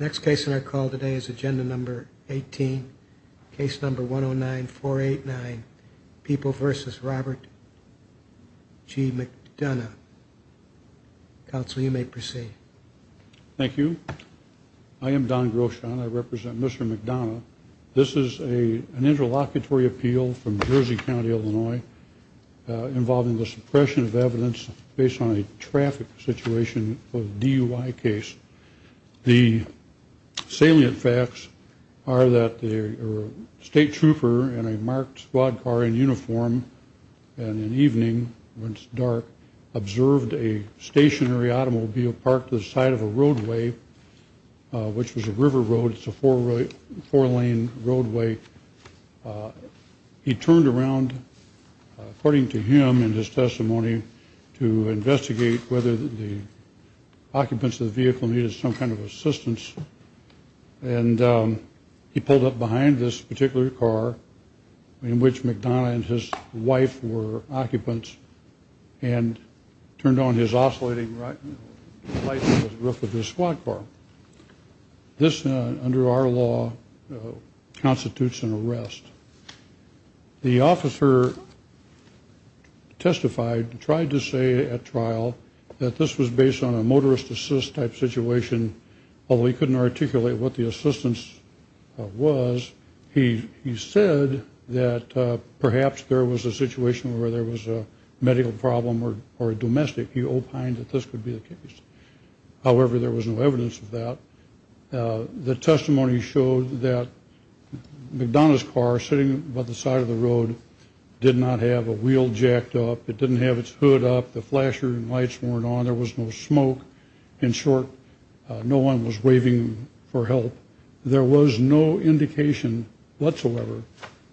Next case in our call today is agenda number 18, case number 109489, People v. Robert G. McDonough. Council, you may proceed. Thank you. I am Don Groshon. I represent Mr. McDonough. This is an interlocutory appeal from Jersey County, Illinois, involving the suppression of evidence based on a traffic situation of DUI case. The salient facts are that the state trooper in a marked squad car in uniform, and in the evening when it's dark, observed a stationary automobile parked to the side of a roadway, which was a river road. It's a four-lane roadway. He turned around, according to him in his testimony, to investigate whether the occupants of the vehicle needed some kind of assistance, and he pulled up behind this particular car in which McDonough and his wife were occupants, and turned on his oscillating light on the roof of his squad car. This, under our law, constitutes an arrest. The officer testified, tried to say at trial, that this was based on a motorist assist type situation, although he couldn't articulate what the assistance was. He said that perhaps there was a situation where there was a medical problem or a domestic. He opined that this could be the case. However, there was no evidence of that. The testimony showed that McDonough's car, sitting by the side of the road, did not have a wheel jacked up. It didn't have its hood up. The flasher and lights weren't on. There was no smoke. In short, no one was waving for help. There was no indication whatsoever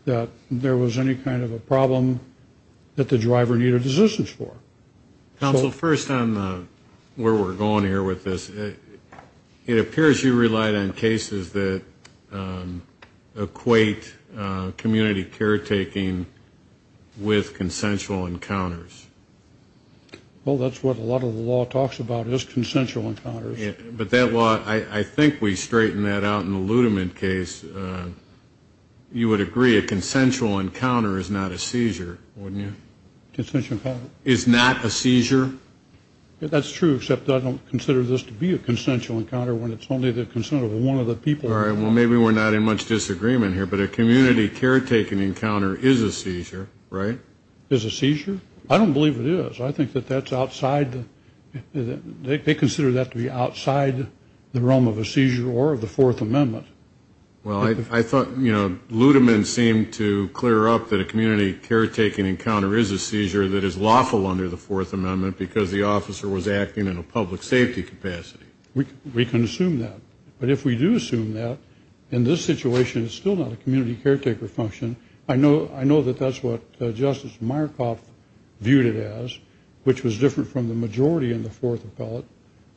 that there was any kind of a problem that the driver needed assistance for. Counsel, first on where we're going here with this, it appears you relied on cases that equate community caretaking with consensual encounters. Well, that's what a lot of the law talks about, is consensual encounters. But that law, I think we straighten that out in the Ludeman case. You would agree a consensual encounter is not a seizure, wouldn't you? Consensual encounter? Is not a seizure? That's true, except I don't consider this to be a consensual encounter when it's only the consent of one of the people. All right, well, maybe we're not in much disagreement here, but a community caretaking encounter is a They consider that to be outside the realm of a seizure or of the Fourth Amendment. Well, I thought, you know, Ludeman seemed to clear up that a community caretaking encounter is a seizure that is lawful under the Fourth Amendment because the officer was acting in a public safety capacity. We can assume that. But if we do assume that, in this situation it's still not a community caretaker function. I know that that's what Justice Myerkoff viewed it as, which was different from the majority in the Fourth Appellate.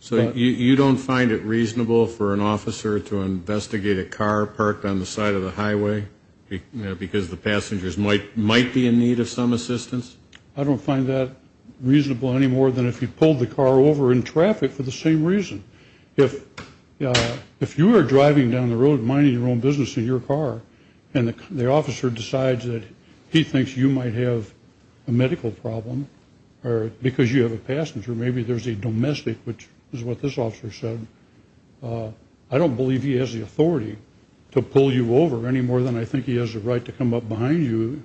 So you don't find it reasonable for an officer to investigate a car parked on the side of the highway because the passengers might might be in need of some assistance? I don't find that reasonable any more than if you pulled the car over in traffic for the same reason. If you are driving down the road minding your own business in your car and the officer decides that he or because you have a passenger, maybe there's a domestic, which is what this officer said, I don't believe he has the authority to pull you over any more than I think he has the right to come up behind you.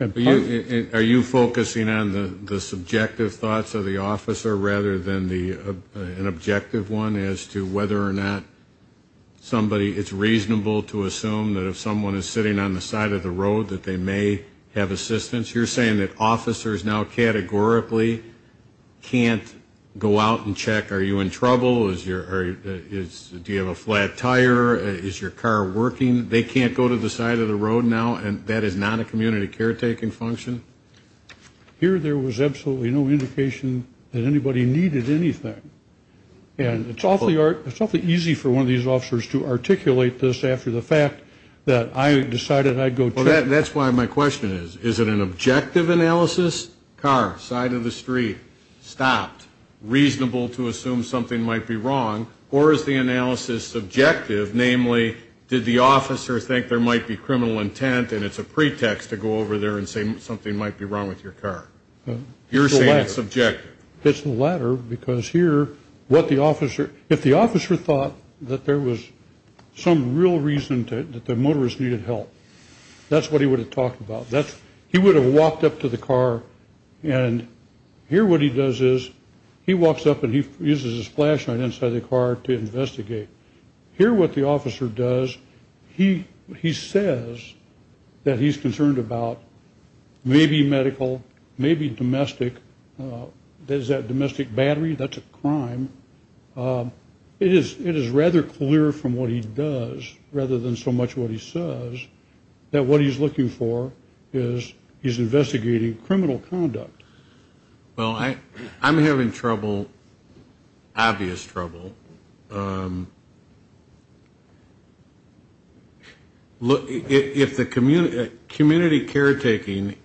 Are you focusing on the subjective thoughts of the officer rather than the an objective one as to whether or not somebody, it's reasonable to assume that if someone is sitting on categorically can't go out and check, are you in trouble? Do you have a flat tire? Is your car working? They can't go to the side of the road now and that is not a community caretaking function? Here there was absolutely no indication that anybody needed anything and it's awfully easy for one of these officers to articulate this after the fact that I decided I'd go check. That's why my question is, is it an objective analysis, car, side of the street, stopped, reasonable to assume something might be wrong or is the analysis subjective, namely did the officer think there might be criminal intent and it's a pretext to go over there and say something might be wrong with your car? You're saying it's subjective. It's the latter because here what the officer, if the officer thought that there was some real reason that the motorist needed help, that's what he would have talked about. He would have walked up to the car and here what he does is he walks up and he uses his flashlight inside the car to investigate. Here what the officer does, he says that he's concerned about maybe medical, maybe domestic, is that domestic battery? That's a crime. It is rather clear from what he does rather than so much what he says that what he's looking for is he's investigating criminal conduct. Well, I'm having trouble, obvious trouble. If the community caretaking,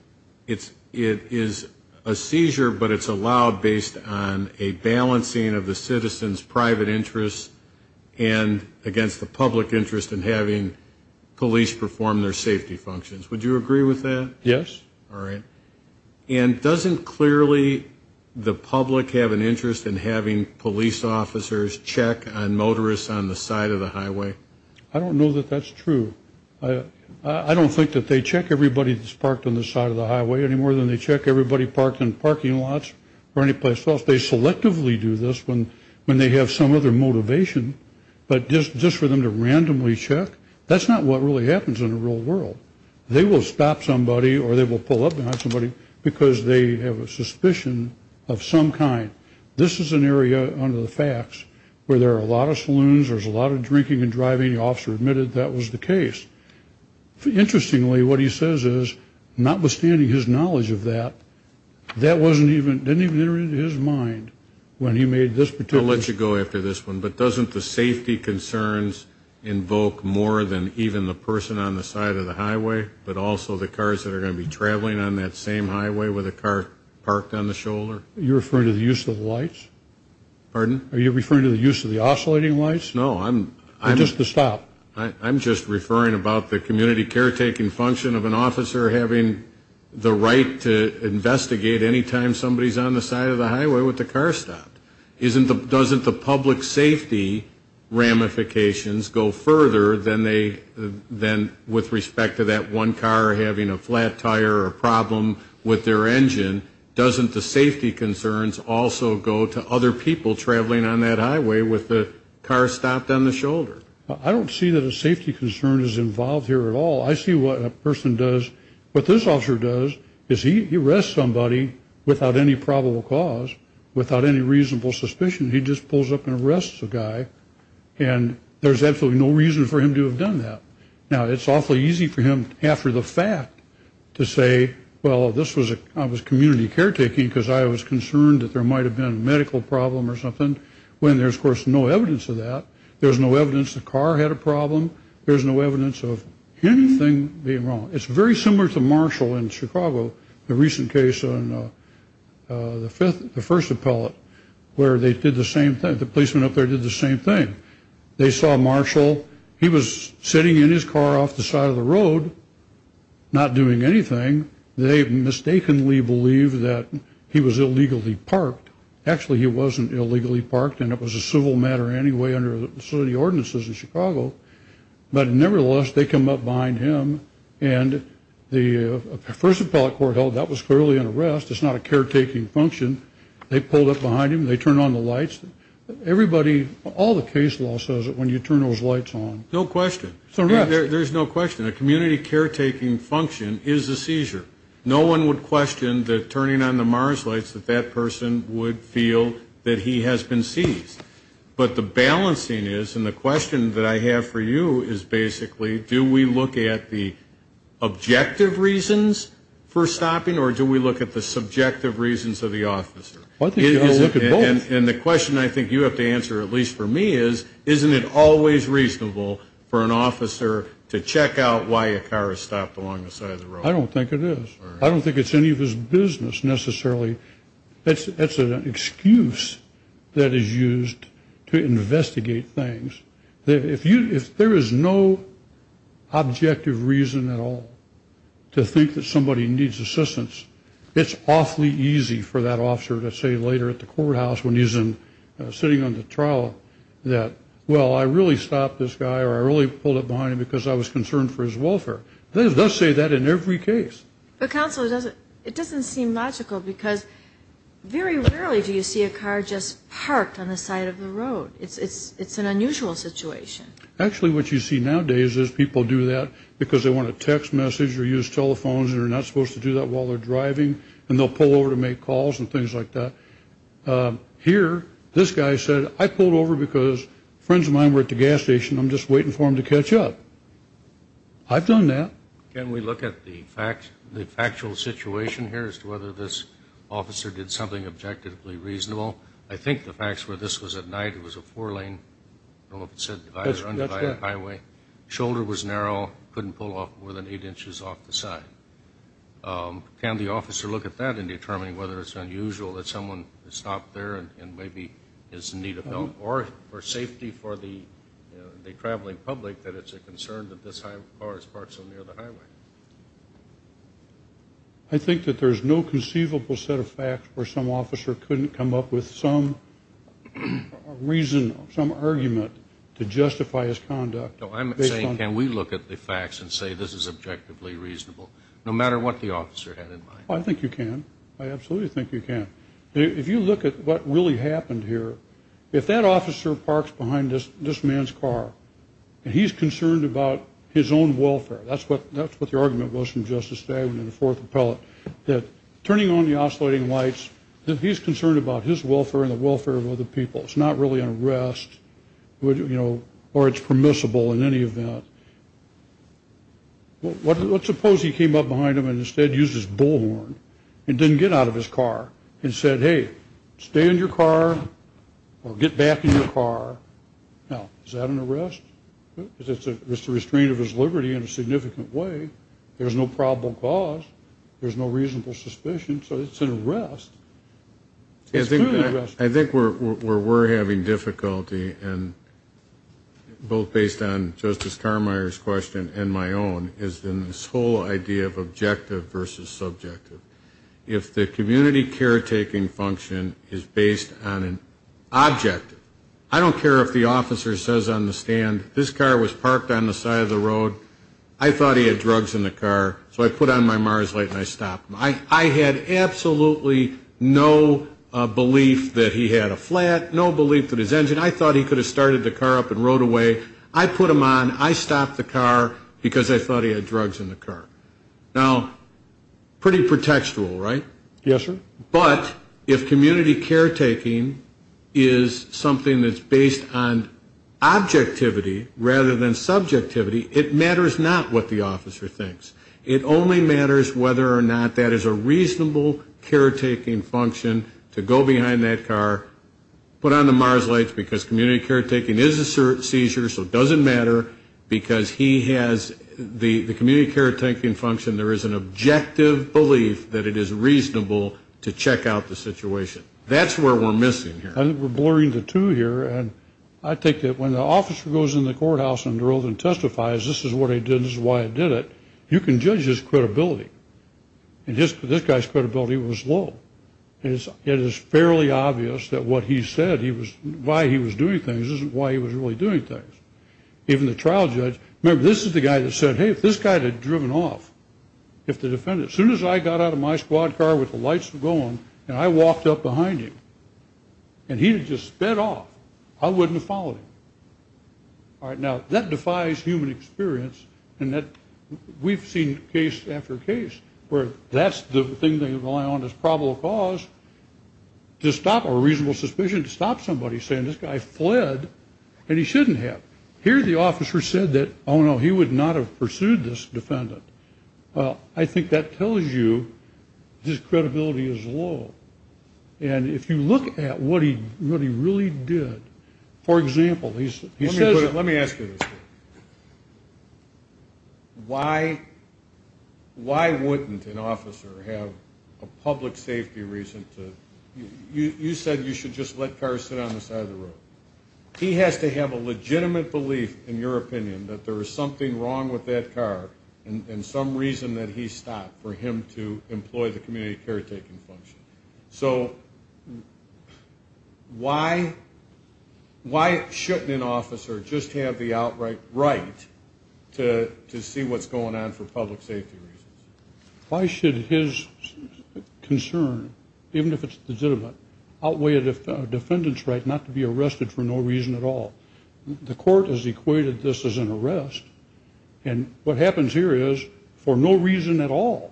it is a seizure but it's allowed based on a balancing of the citizens private interests and against the public interest in having police perform their safety functions. Would you agree with that? Yes. All right. And doesn't clearly the public have an interest in having police officers check on motorists on the side of the highway? I don't know that that's true. I don't think that they check everybody that's parked on the side of the highway any more than they check everybody parked in parking lots or anyplace else. They selectively do this when when they have some other motivation but just just for them to randomly check, that's not what really happens in the real world. They will stop somebody or they will pull up behind somebody because they have a suspicion of some kind. This is an area under the facts where there are a lot of saloons, there's a lot of drinking and driving. The officer admitted that was the case. Interestingly, what he says is notwithstanding his knowledge of that, that wasn't even didn't even enter his mind when he made this particular... I'll let you go after this one, but doesn't the safety concerns invoke more than even the person on the side of the highway but also the cars that are going to be traveling on that same highway with a car parked on the shoulder? You're referring to the use of lights? Pardon? Are you referring to the use of the oscillating lights? No, I'm... Just the stop? I'm just referring about the community caretaking function of an officer having the right to investigate anytime somebody's on the side of the highway with the car stopped. Isn't the... doesn't the public safety ramifications go further than they then with respect to that one car having a flat tire or a problem with their engine? Doesn't the safety concerns also go to other people traveling on that highway with the car stopped on the shoulder? I don't see that safety concern is involved here at all. I see what a person does, what this officer does, is he arrests somebody without any probable cause, without any reasonable suspicion. He just pulls up and arrests the guy and there's absolutely no reason for him to have done that. Now it's awfully easy for him after the fact to say, well this was a community caretaking because I was concerned that there might have been a medical problem or something, when there's of course no evidence of that. There's no evidence the car had a problem. There's no evidence of anything being wrong. It's very similar to Marshall in Chicago, the recent case on the fifth, the first appellate, where they did the same thing. The policeman up there did the same thing. They saw Marshall. He was sitting in his car off the side of the road not doing anything. They mistakenly believe that he was illegally parked. Actually he wasn't illegally parked and it was a civil matter anyway under the city ordinances in Chicago, but nevertheless they come up behind him and the first appellate court held that was clearly an arrest. It's not a caretaking function. They pulled up behind him. They turned on the lights. Everybody, all the case law says that when you turn those lights on. No question. There's no question. A community caretaking function is a seizure. No one would question the turning on the MARS lights that that person would feel that he has been seized. But the balancing is and the question that I have for you is basically, do we look at the objective reasons for stopping or do we look at the subjective reasons of the officer? I think you look at both. And the question I think you have to answer at least for me is, isn't it always reasonable for an officer to check out why a car is stopped along the side of the road? I don't think it is. I don't think it's any of his business necessarily. That's an excuse that is used to investigate things. If you, if there is no objective reason at all to think that somebody needs assistance, it's awfully easy for that officer to say later at the courthouse when he's in sitting on the trial that, well I really stopped this guy or I really pulled up behind him because I was concerned for his welfare. They say that in every case. But rarely do you see a car just parked on the side of the road. It's, it's, it's an unusual situation. Actually what you see nowadays is people do that because they want to text message or use telephones and are not supposed to do that while they're driving and they'll pull over to make calls and things like that. Here, this guy said I pulled over because friends of mine were at the gas station I'm just waiting for him to catch up. I've done that. Can we look at the fact, the factual situation here as to whether this officer did something objectively reasonable? I think the facts were this was at night, it was a four lane, I don't know if it said divided or undivided highway. Shoulder was narrow, couldn't pull off more than eight inches off the side. Can the officer look at that and determine whether it's unusual that someone stopped there and maybe is in need of help or for safety for the traveling public that it's a concern that this is a divided highway? I think that there's no conceivable set of facts where some officer couldn't come up with some reason, some argument to justify his conduct. I'm saying can we look at the facts and say this is objectively reasonable no matter what the officer had in mind. I think you can. I absolutely think you can. If you look at what really happened here, if that officer parks behind this this man's car and he's concerned about his own welfare, that's what that's what the argument was from Justice Stagg in the fourth appellate, that turning on the oscillating lights, that he's concerned about his welfare and the welfare of other people. It's not really an arrest, you know, or it's permissible in any event. Let's suppose he came up behind him and instead used his bullhorn and didn't get out of his car and said hey stay in your car or get back in your car. Now is that an arrest? It's a restraint of his liberty in a significant way. There's no probable cause. There's no reasonable suspicion. So it's an arrest. I think where we're having difficulty and both based on Justice Carmeier's question and my own is in this whole idea of objective versus subjective. If the community caretaking function is based on an objective, I don't care if the officer says on the stand this car was parked on the side of the road, I thought he had drugs in the car, so I put on my MARS light and I stopped him. I had absolutely no belief that he had a flat, no belief that his engine, I thought he could have started the car up and rode away. I put him on, I stopped the car because I thought he had drugs in the car. Now pretty pretextual, right? Yes, sir. But if community caretaking is something that's based on objectivity rather than subjectivity, it matters not what the officer thinks. It only matters whether or not that is a reasonable caretaking function to go behind that car, put on the MARS lights because community caretaking is a seizure so it doesn't matter because he has the community caretaking function, there is an objective belief that it is reasonable to check out the situation. That's where we're missing here. I think we're blurring the two here and I think that when the officer goes in the courthouse and drove and testifies, this is what I did, this is why I did it, you can judge his credibility. And this guy's credibility was low. It is fairly obvious that what he said he was, why he was doing things isn't why he was really doing things. Even the trial judge, remember this is the guy that said, hey, if this guy had driven off, if the defendant, as soon as I got out of my squad car with the lights were going and I walked up behind him and he had just sped off, I wouldn't have followed him. All right, now that defies human experience and that we've seen case after case where that's the thing they rely on as probable cause to stop a reasonable suspicion, to stop somebody saying this guy fled and he shouldn't have. Here the officer said that, oh, no, he would not have pursued this defendant. Well, I think that tells you his credibility is low. And if you look at what he really did, for example, he says... Let me ask you this. Why wouldn't an officer have a public safety reason to, you said you should just let cars sit on the side of the road. He has to have a legitimate belief, in your opinion, that there is something wrong with that car and some reason that he stopped for him to employ the community caretaking function. So why shouldn't an officer just have the outright right to see what's going on for public safety reasons? Why should his concern, even if it's legitimate, outweigh a defendant's right not to be arrested for no reason at all? The court has equated this as an arrest and what happens here is, for no reason at all,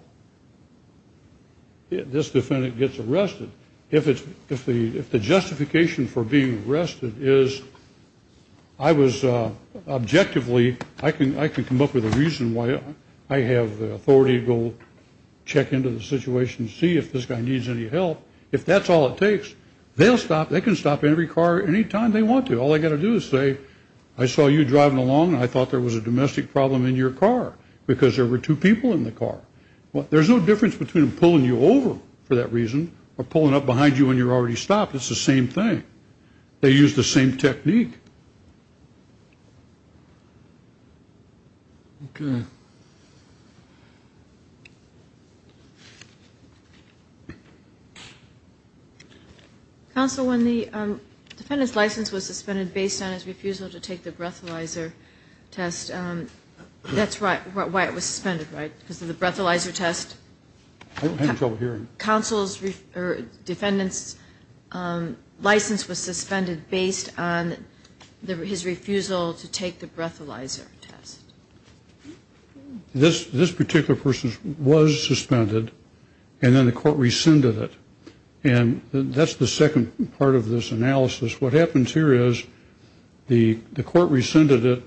this defendant gets arrested. If the justification for being arrested is, I was objectively, I can come up with a reason why I have the authority to go check into the situation to see if this guy needs any help. If that's all it takes, they'll stop, they can stop every car anytime they want to. All I got to do is say, I saw you driving along and I thought there was a domestic problem in your car because there were two people in the car. There's no difference between pulling you over for that reason or pulling up behind you when you're already stopped. It's the same thing. They use the same technique. Counsel, when the defendant's license was suspended based on his refusal to take the breathalyzer test, that's why it was suspended, right? Because of the license was suspended based on his refusal to take the breathalyzer test. This particular person was suspended and then the court rescinded it. And that's the second part of this analysis. What happens here is, the court rescinded it.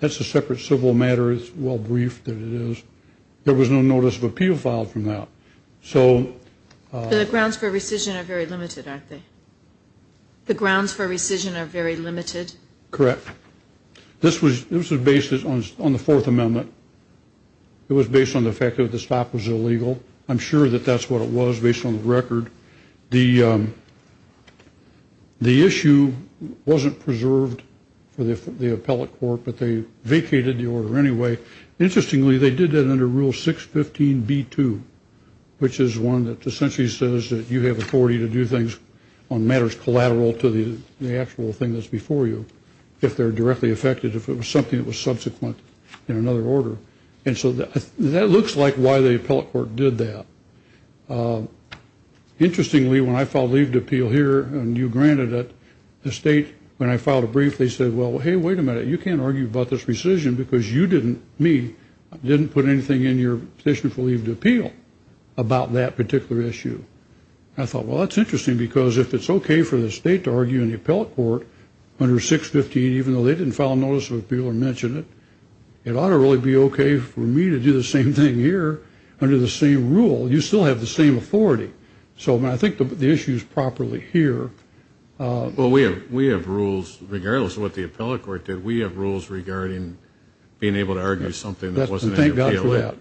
That's a separate civil matter. It's well briefed that it is. There was no notice of appeal filed from that. So... The grounds for rescission are very limited, aren't they? The grounds for rescission are very limited? Correct. This was based on the Fourth Amendment. It was based on the fact that the stop was illegal. I'm sure that that's what it was based on the record. The issue wasn't preserved for the appellate court, but they vacated the order anyway. Interestingly, they did that under Rule 615B2, which is one that essentially says that you have authority to do things on matters collateral to the actual thing that's before you, if they're directly affected, if it was something that was subsequent in another order. And so that looks like why the appellate court did that. Interestingly, when I filed leave to appeal here and you granted it, the state, when I filed a brief, they said, well, hey, wait a minute, you can't put anything in your petition for leave to appeal about that particular issue. I thought, well, that's interesting because if it's okay for the state to argue in the appellate court under 615, even though they didn't file a notice of appeal or mention it, it ought to really be okay for me to do the same thing here under the same rule. You still have the same authority. So I think the issue is properly here. Well, we have rules, regardless of what the appellate court did, we have rules regarding being able to argue something that wasn't in your PLA. Thank God for that.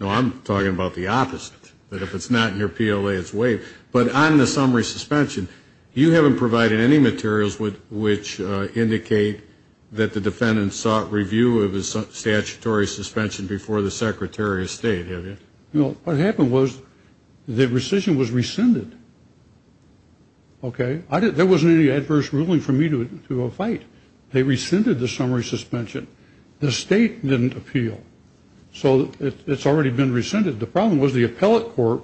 No, I'm talking about the opposite, that if it's not in your PLA, it's waived. But on the summary suspension, you haven't provided any materials which indicate that the defendant sought review of his statutory suspension before the Secretary of State, have you? No. What happened was the rescission was rescinded. Okay? There wasn't any adverse ruling for me to do a fight. They rescinded the summary suspension. The state didn't appeal. So it's already been rescinded. The problem was the appellate court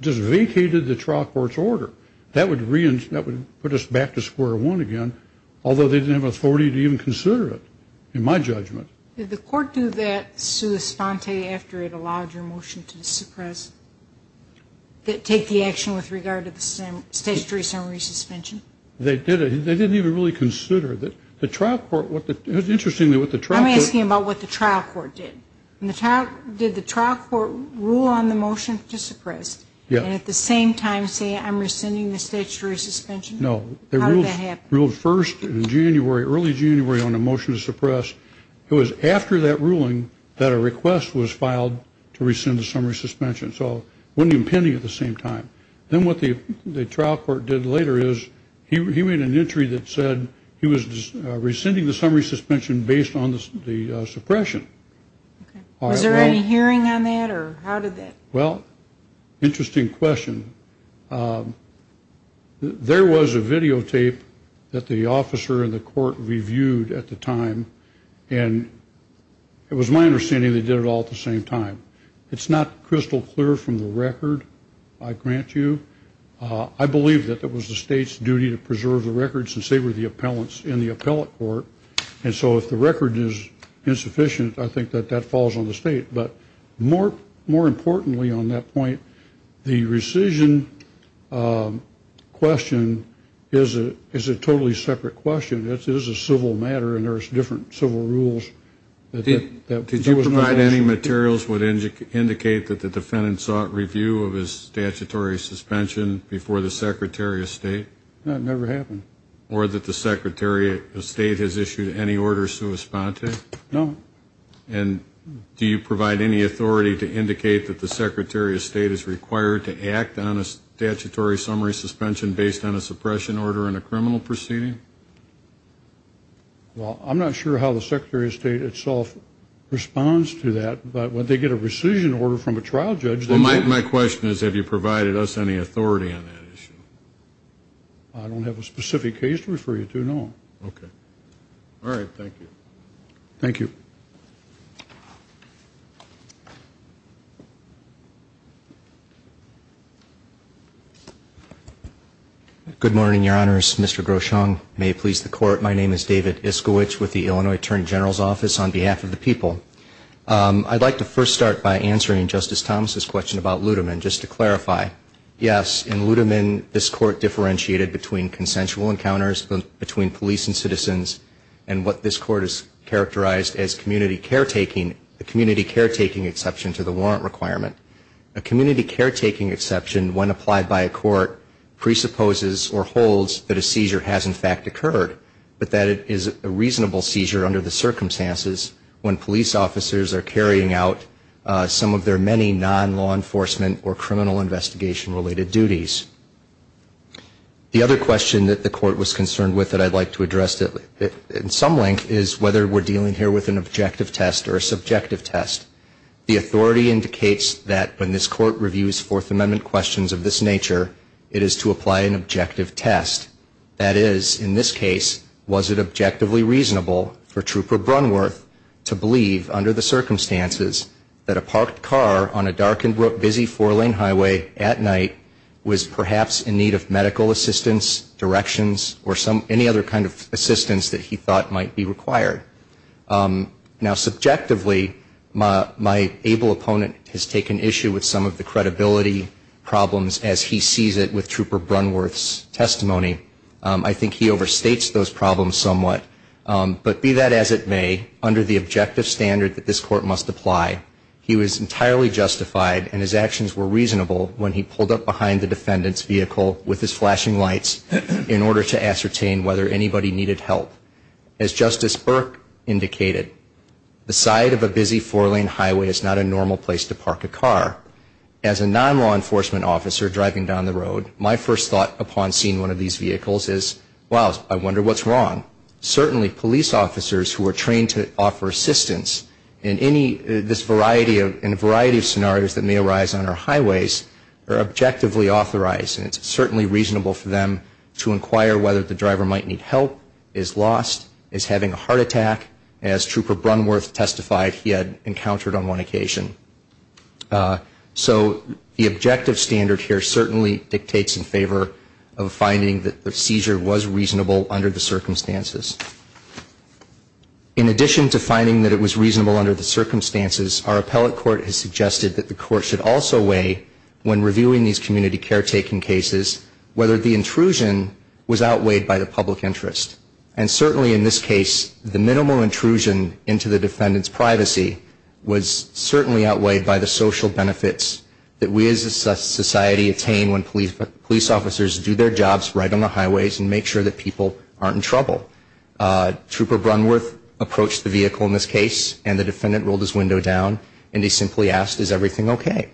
just vacated the trial court's order. That would put us back to square one again, although they didn't have authority to even consider it, in my judgment. Did the court do that sua sponte after it allowed your motion to suppress, take the action with regard to the statutory summary suspension? They did it. They didn't even really consider it. The trial court, what the, interestingly what the trial court I'm asking about what the trial court did. Did the trial court rule on the motion to suppress? Yeah. And at the same time say I'm rescinding the statutory suspension? No. How did that happen? They ruled first in January, early January on the motion to suppress. It was after that ruling that a request was filed to rescind the summary suspension. So it wasn't even happening at the same time. Then what the trial court did later is he made an entry that said he was rescinding the summary suspension based on the suppression. Was there any hearing on that or how did that? Well, interesting question. There was a videotape that the officer and the court reviewed at the time. And it was my understanding they did it all at the same time. It's not crystal clear from the record, I grant you. I believe that it was the state's duty to preserve the record since they were the appellants in the appellate court. And so if the record is insufficient, I think that that falls on the state. But more importantly on that point, the rescission question is a totally separate question. It is a civil matter and there are different civil rules. Did you provide any materials that would indicate that the defendant sought review of his statutory suspension before the Secretary of State? No, it never happened. Or that the Secretary of State has issued any order sui sponte? No. And do you provide any authority to indicate that the Secretary of State is required to act on a statutory summary suspension based on a suppression order in a criminal proceeding? Well, I'm not sure how the Secretary of State itself responds to that. But when they get a rescission order from a trial judge... Well, my question is have you provided us any authority on that issue? I don't have a specific case to refer you to, no. Okay. All right. Thank you. Thank you. Good morning, Your Honors. Mr. Groshong, may it please the Court, my name is David Iskowich with the Illinois Attorney General's Office on behalf of the people. I'd like to first start by answering Justice Thomas' question about Ludeman, just to clarify. Yes, in Ludeman, this Court differentiated between consensual encounters between police and citizens and what this Court has characterized as community cases. The community caretaking exception to the warrant requirement, a community caretaking exception when applied by a court presupposes or holds that a seizure has in fact occurred, but that it is a reasonable seizure under the circumstances when police officers are carrying out some of their many non-law enforcement or criminal investigation related duties. The other question that the Court was concerned with that I'd like to address in some length is whether we're dealing here with an objective test or a subjective test. The authority indicates that when this Court reviews Fourth Amendment questions of this nature, it is to apply an objective test. That is, in this case, was it objectively reasonable for Trooper Brunworth to believe under the circumstances that a parked car on a dark and busy four-lane highway at night was perhaps in need of assistance? Now, subjectively, my able opponent has taken issue with some of the credibility problems as he sees it with Trooper Brunworth's testimony. I think he overstates those problems somewhat. But be that as it may, under the objective standard that this Court must apply, he was entirely justified and his actions were reasonable when he pulled up behind the defendant's vehicle with his car indicated. The side of a busy four-lane highway is not a normal place to park a car. As a non-law enforcement officer driving down the road, my first thought upon seeing one of these vehicles is, wow, I wonder what's wrong. Certainly police officers who are trained to offer assistance in any, this variety of, in a variety of scenarios that may arise on our highways are objectively authorized. And it's certainly reasonable for them to inquire whether the driver might need help, is lost, is having a heart attack, as Trooper Brunworth testified he had encountered on one occasion. So the objective standard here certainly dictates in favor of finding that the seizure was reasonable under the circumstances. In addition to finding that it was reasonable under the circumstances, our appellate court has suggested that the court should also weigh when reviewing these community caretaking cases whether the intrusion was outweighed by the public interest. And certainly in this case, the minimal intrusion into the defendant's privacy was certainly outweighed by the social benefits that we as a society attain when police officers do their jobs right on the highways and make sure that people aren't in trouble. Trooper Brunworth approached the vehicle in this case and the defendant rolled his window down and he simply asked, is everything okay?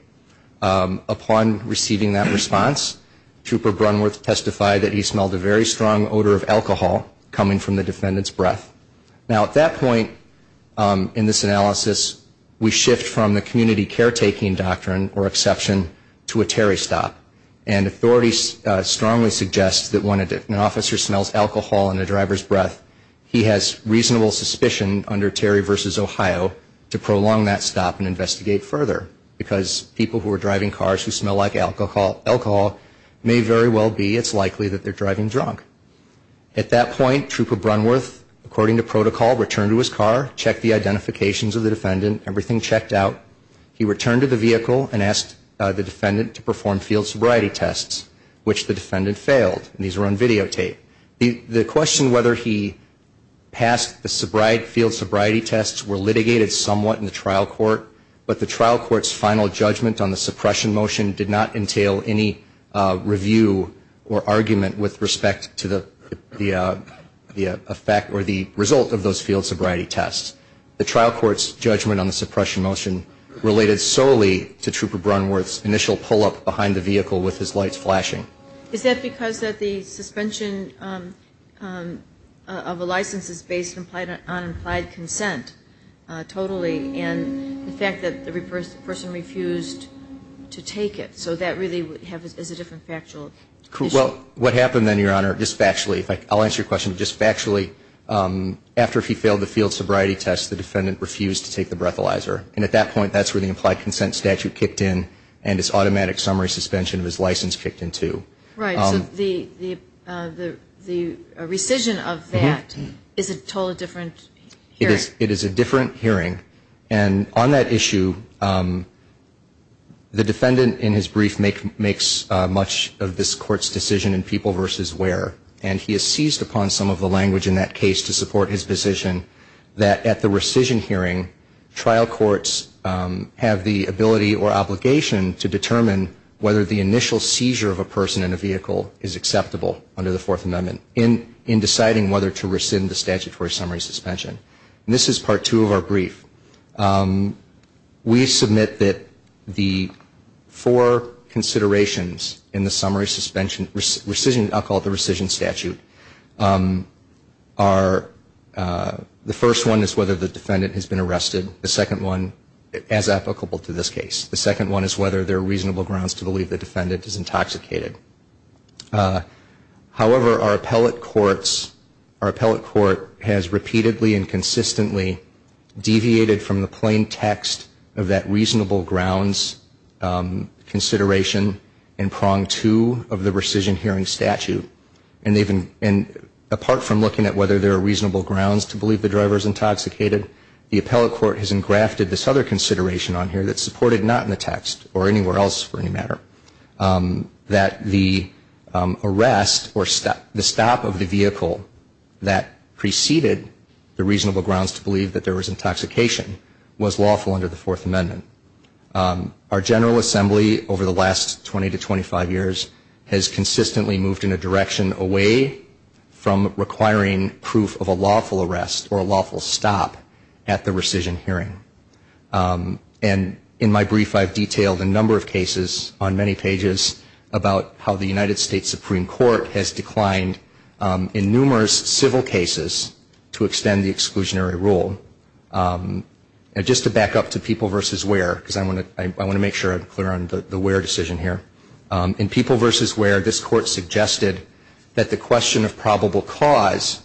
Upon receiving that response, Trooper Brunworth testified that he smelled a very strong odor of alcohol coming from the defendant's breath. Now at that point in this analysis, we shift from the community caretaking doctrine or exception to a Terry stop. And authorities strongly suggest that when an officer smells alcohol in a driver's breath, he has reasonable suspicion under Terry v. Ohio to prolong that stop and investigate further because people who are driving cars who smell like alcohol may very well be, it's likely that they're driving drunk. At that point, Trooper Brunworth, according to protocol, returned to his car, checked the identifications of the defendant, everything checked out. He returned to the vehicle and asked the defendant to perform field sobriety tests, which the defendant failed. And these were on videotape. The question whether he passed the field sobriety tests were litigated somewhat in the trial court, but the trial court's final judgment on the suppression motion did not entail any review or argument with respect to the effect or the result of those field sobriety tests. The trial court's judgment on the suppression motion related solely to Trooper Brunworth's initial pull-up behind the vehicle with his lights flashing. Is that because that the suspension of a license is based on implied consent totally, and the fact that the person refused to take it? So that really is a different factual issue. Well, what happened then, Your Honor, just factually, I'll answer your question, just factually, after he failed the field sobriety tests, the defendant refused to take the breathalyzer. And at that point, that's where the implied consent statute kicked in, and this automatic summary suspension of his license kicked in, too. Right. So the rescission of that is a totally different hearing. It is a different hearing. And on that issue, the defendant in his brief makes much of this court's decision in people versus where, and he has seized upon some of the language in that case to support his position that at the rescission hearing, trial courts have the ability or obligation to determine whether the initial seizure of a person in a vehicle is acceptable under the Fourth Amendment in deciding whether to rescind the statutory summary suspension. And this is Part 2 of our brief. We submit that the four considerations in the summary suspension rescission, I'll call it the rescission statute, are, the first one is whether the defendant has been arrested, the second one, as applicable to this case. The second one is whether there are reasonable grounds to believe the defendant is intoxicated. However, our appellate courts, our appellate court has repeatedly and consistently deviated from the plain text of that reasonable grounds consideration in Prong 2 of the rescission hearing statute. And apart from looking at whether there are reasonable grounds to believe the driver is intoxicated, the appellate court has engrafted this other consideration on here that's supported not in the text, or anywhere else for any matter, that the arrest or the stop of the vehicle that preceded the reasonable grounds to believe that there was intoxication was lawful under the Fourth Amendment. Our General Assembly over the last 20 to 25 years has consistently moved in a direction away from requiring proof of a lawful arrest or a lawful stop at the rescission hearing. And in my brief I've detailed a number of cases on many pages about how the United States Supreme Court has declined in numerous civil cases to extend the exclusionary rule. Just to back up to people versus where, because I want to make sure I'm clear on the where decision here. In people versus where, this Court suggested that the question of probable cause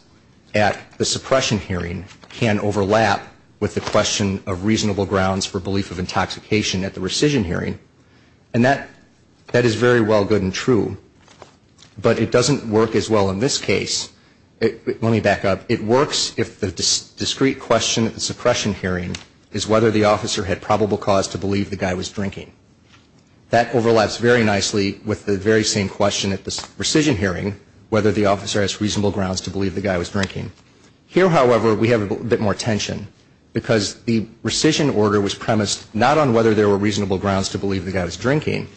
at the suppression hearing can overlap with the question of reasonable grounds for belief of intoxication at the rescission hearing. And that is very well good and true. But it doesn't work as well in this case. Let me back up. It works if the discrete question at the suppression hearing is whether the officer had probable cause to believe the guy was drinking. That overlaps very nicely with the very same question at the rescission hearing, whether the officer has reasonable grounds to believe the guy was drinking. Here, however, we have a bit more tension because the rescission order was premised not on whether there were reasonable grounds to believe the guy was drinking,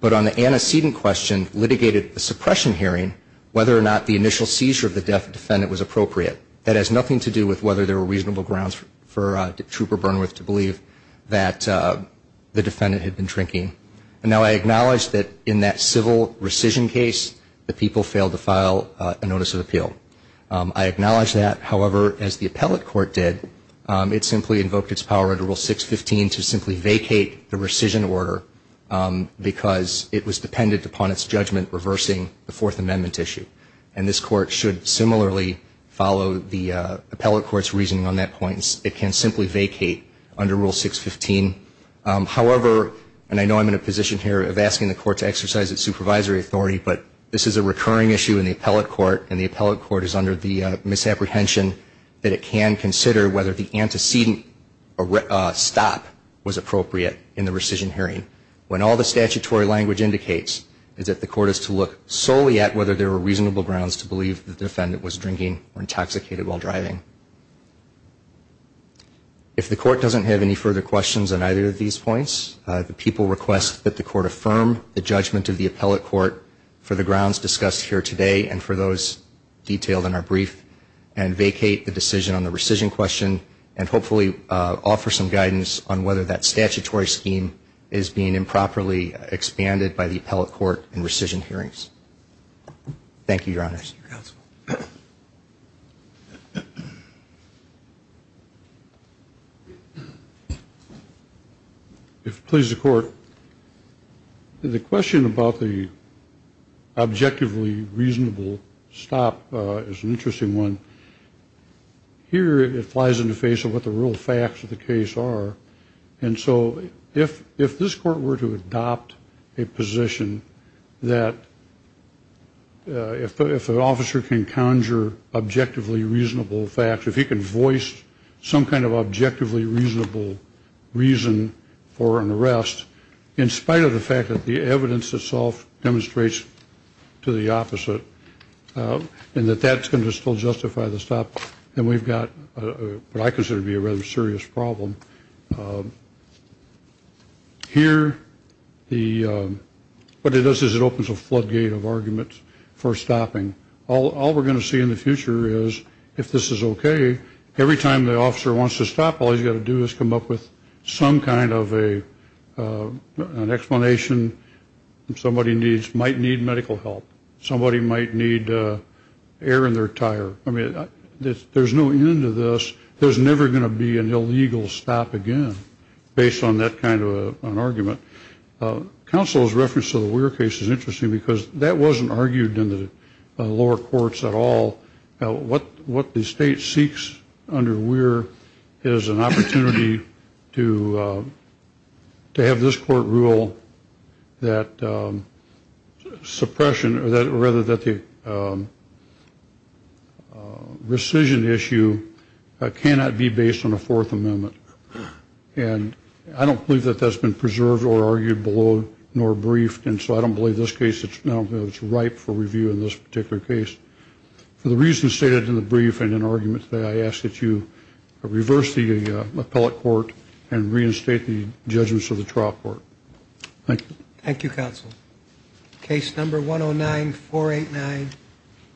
but on the antecedent question litigated at the suppression hearing whether or not the initial seizure of the defendant was appropriate. That has nothing to do with whether there were reasonable grounds for Trooper Burnworth to believe that the defendant had been drinking. And now I acknowledge that in that civil rescission case, the people failed to file a notice of appeal. I acknowledge that. However, as the appellate court did, it simply invoked its power under Rule 615 to simply vacate the rescission order because it was dependent upon its judgment reversing the Fourth Amendment issue. And this court should similarly follow the appellate court's reasoning on that point. It can simply vacate under Rule 615. However, and I know I'm in a position here of asking the court to exercise its supervisory authority, but this is a recurring issue in the appellate court, and the appellate court is under the misapprehension that it can consider whether the antecedent stop was appropriate in the rescission hearing. When all the statutory language indicates is that the court is to look solely at whether there were reasonable grounds to believe the defendant was drinking or intoxicated while driving. If the court doesn't have any further questions on either of these points, the people request that the court affirm the judgment of the appellate court for the grounds discussed here today and for those detailed in our brief and vacate the decision on the rescission question and hopefully offer some guidance on whether that statutory scheme is being improperly expanded by the appellate court in rescission hearings. Thank you, Your Honors. Thank you, Mr. Counsel. If it pleases the court, the question about the objectively reasonable stop is an interesting one. Here it flies in the face of what the real facts of the case are, and so if this court were to adopt a position that if an officer can conjure objectively reasonable facts, if he can voice some kind of objectively reasonable reason for an arrest, in spite of the fact that the evidence itself demonstrates to the opposite and that that's going to still justify the stop, then we've got what I consider to be a rather serious problem. Here, what it does is it opens a floodgate of arguments for stopping. All we're going to see in the future is if this is okay, every time the officer wants to stop, all he's got to do is come up with some kind of an explanation that somebody might need medical help. Somebody might need air in their tire. I mean, there's no end to this. There's never going to be an illegal stop again based on that kind of an argument. Counsel's reference to the Weir case is interesting because that wasn't argued in the lower courts at all. What the state seeks under Weir is an opportunity to have this court rule that suppression, or rather that the rescission issue cannot be based on a Fourth Amendment, and I don't believe that that's been preserved or argued below nor briefed, and so I don't believe this case is ripe for review in this particular case. For the reasons stated in the brief and in argument today, I ask that you reverse the appellate court and reinstate the judgments of the trial court. Thank you. Thank you, counsel. Case number 109489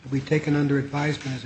will be taken under advisement as a judge.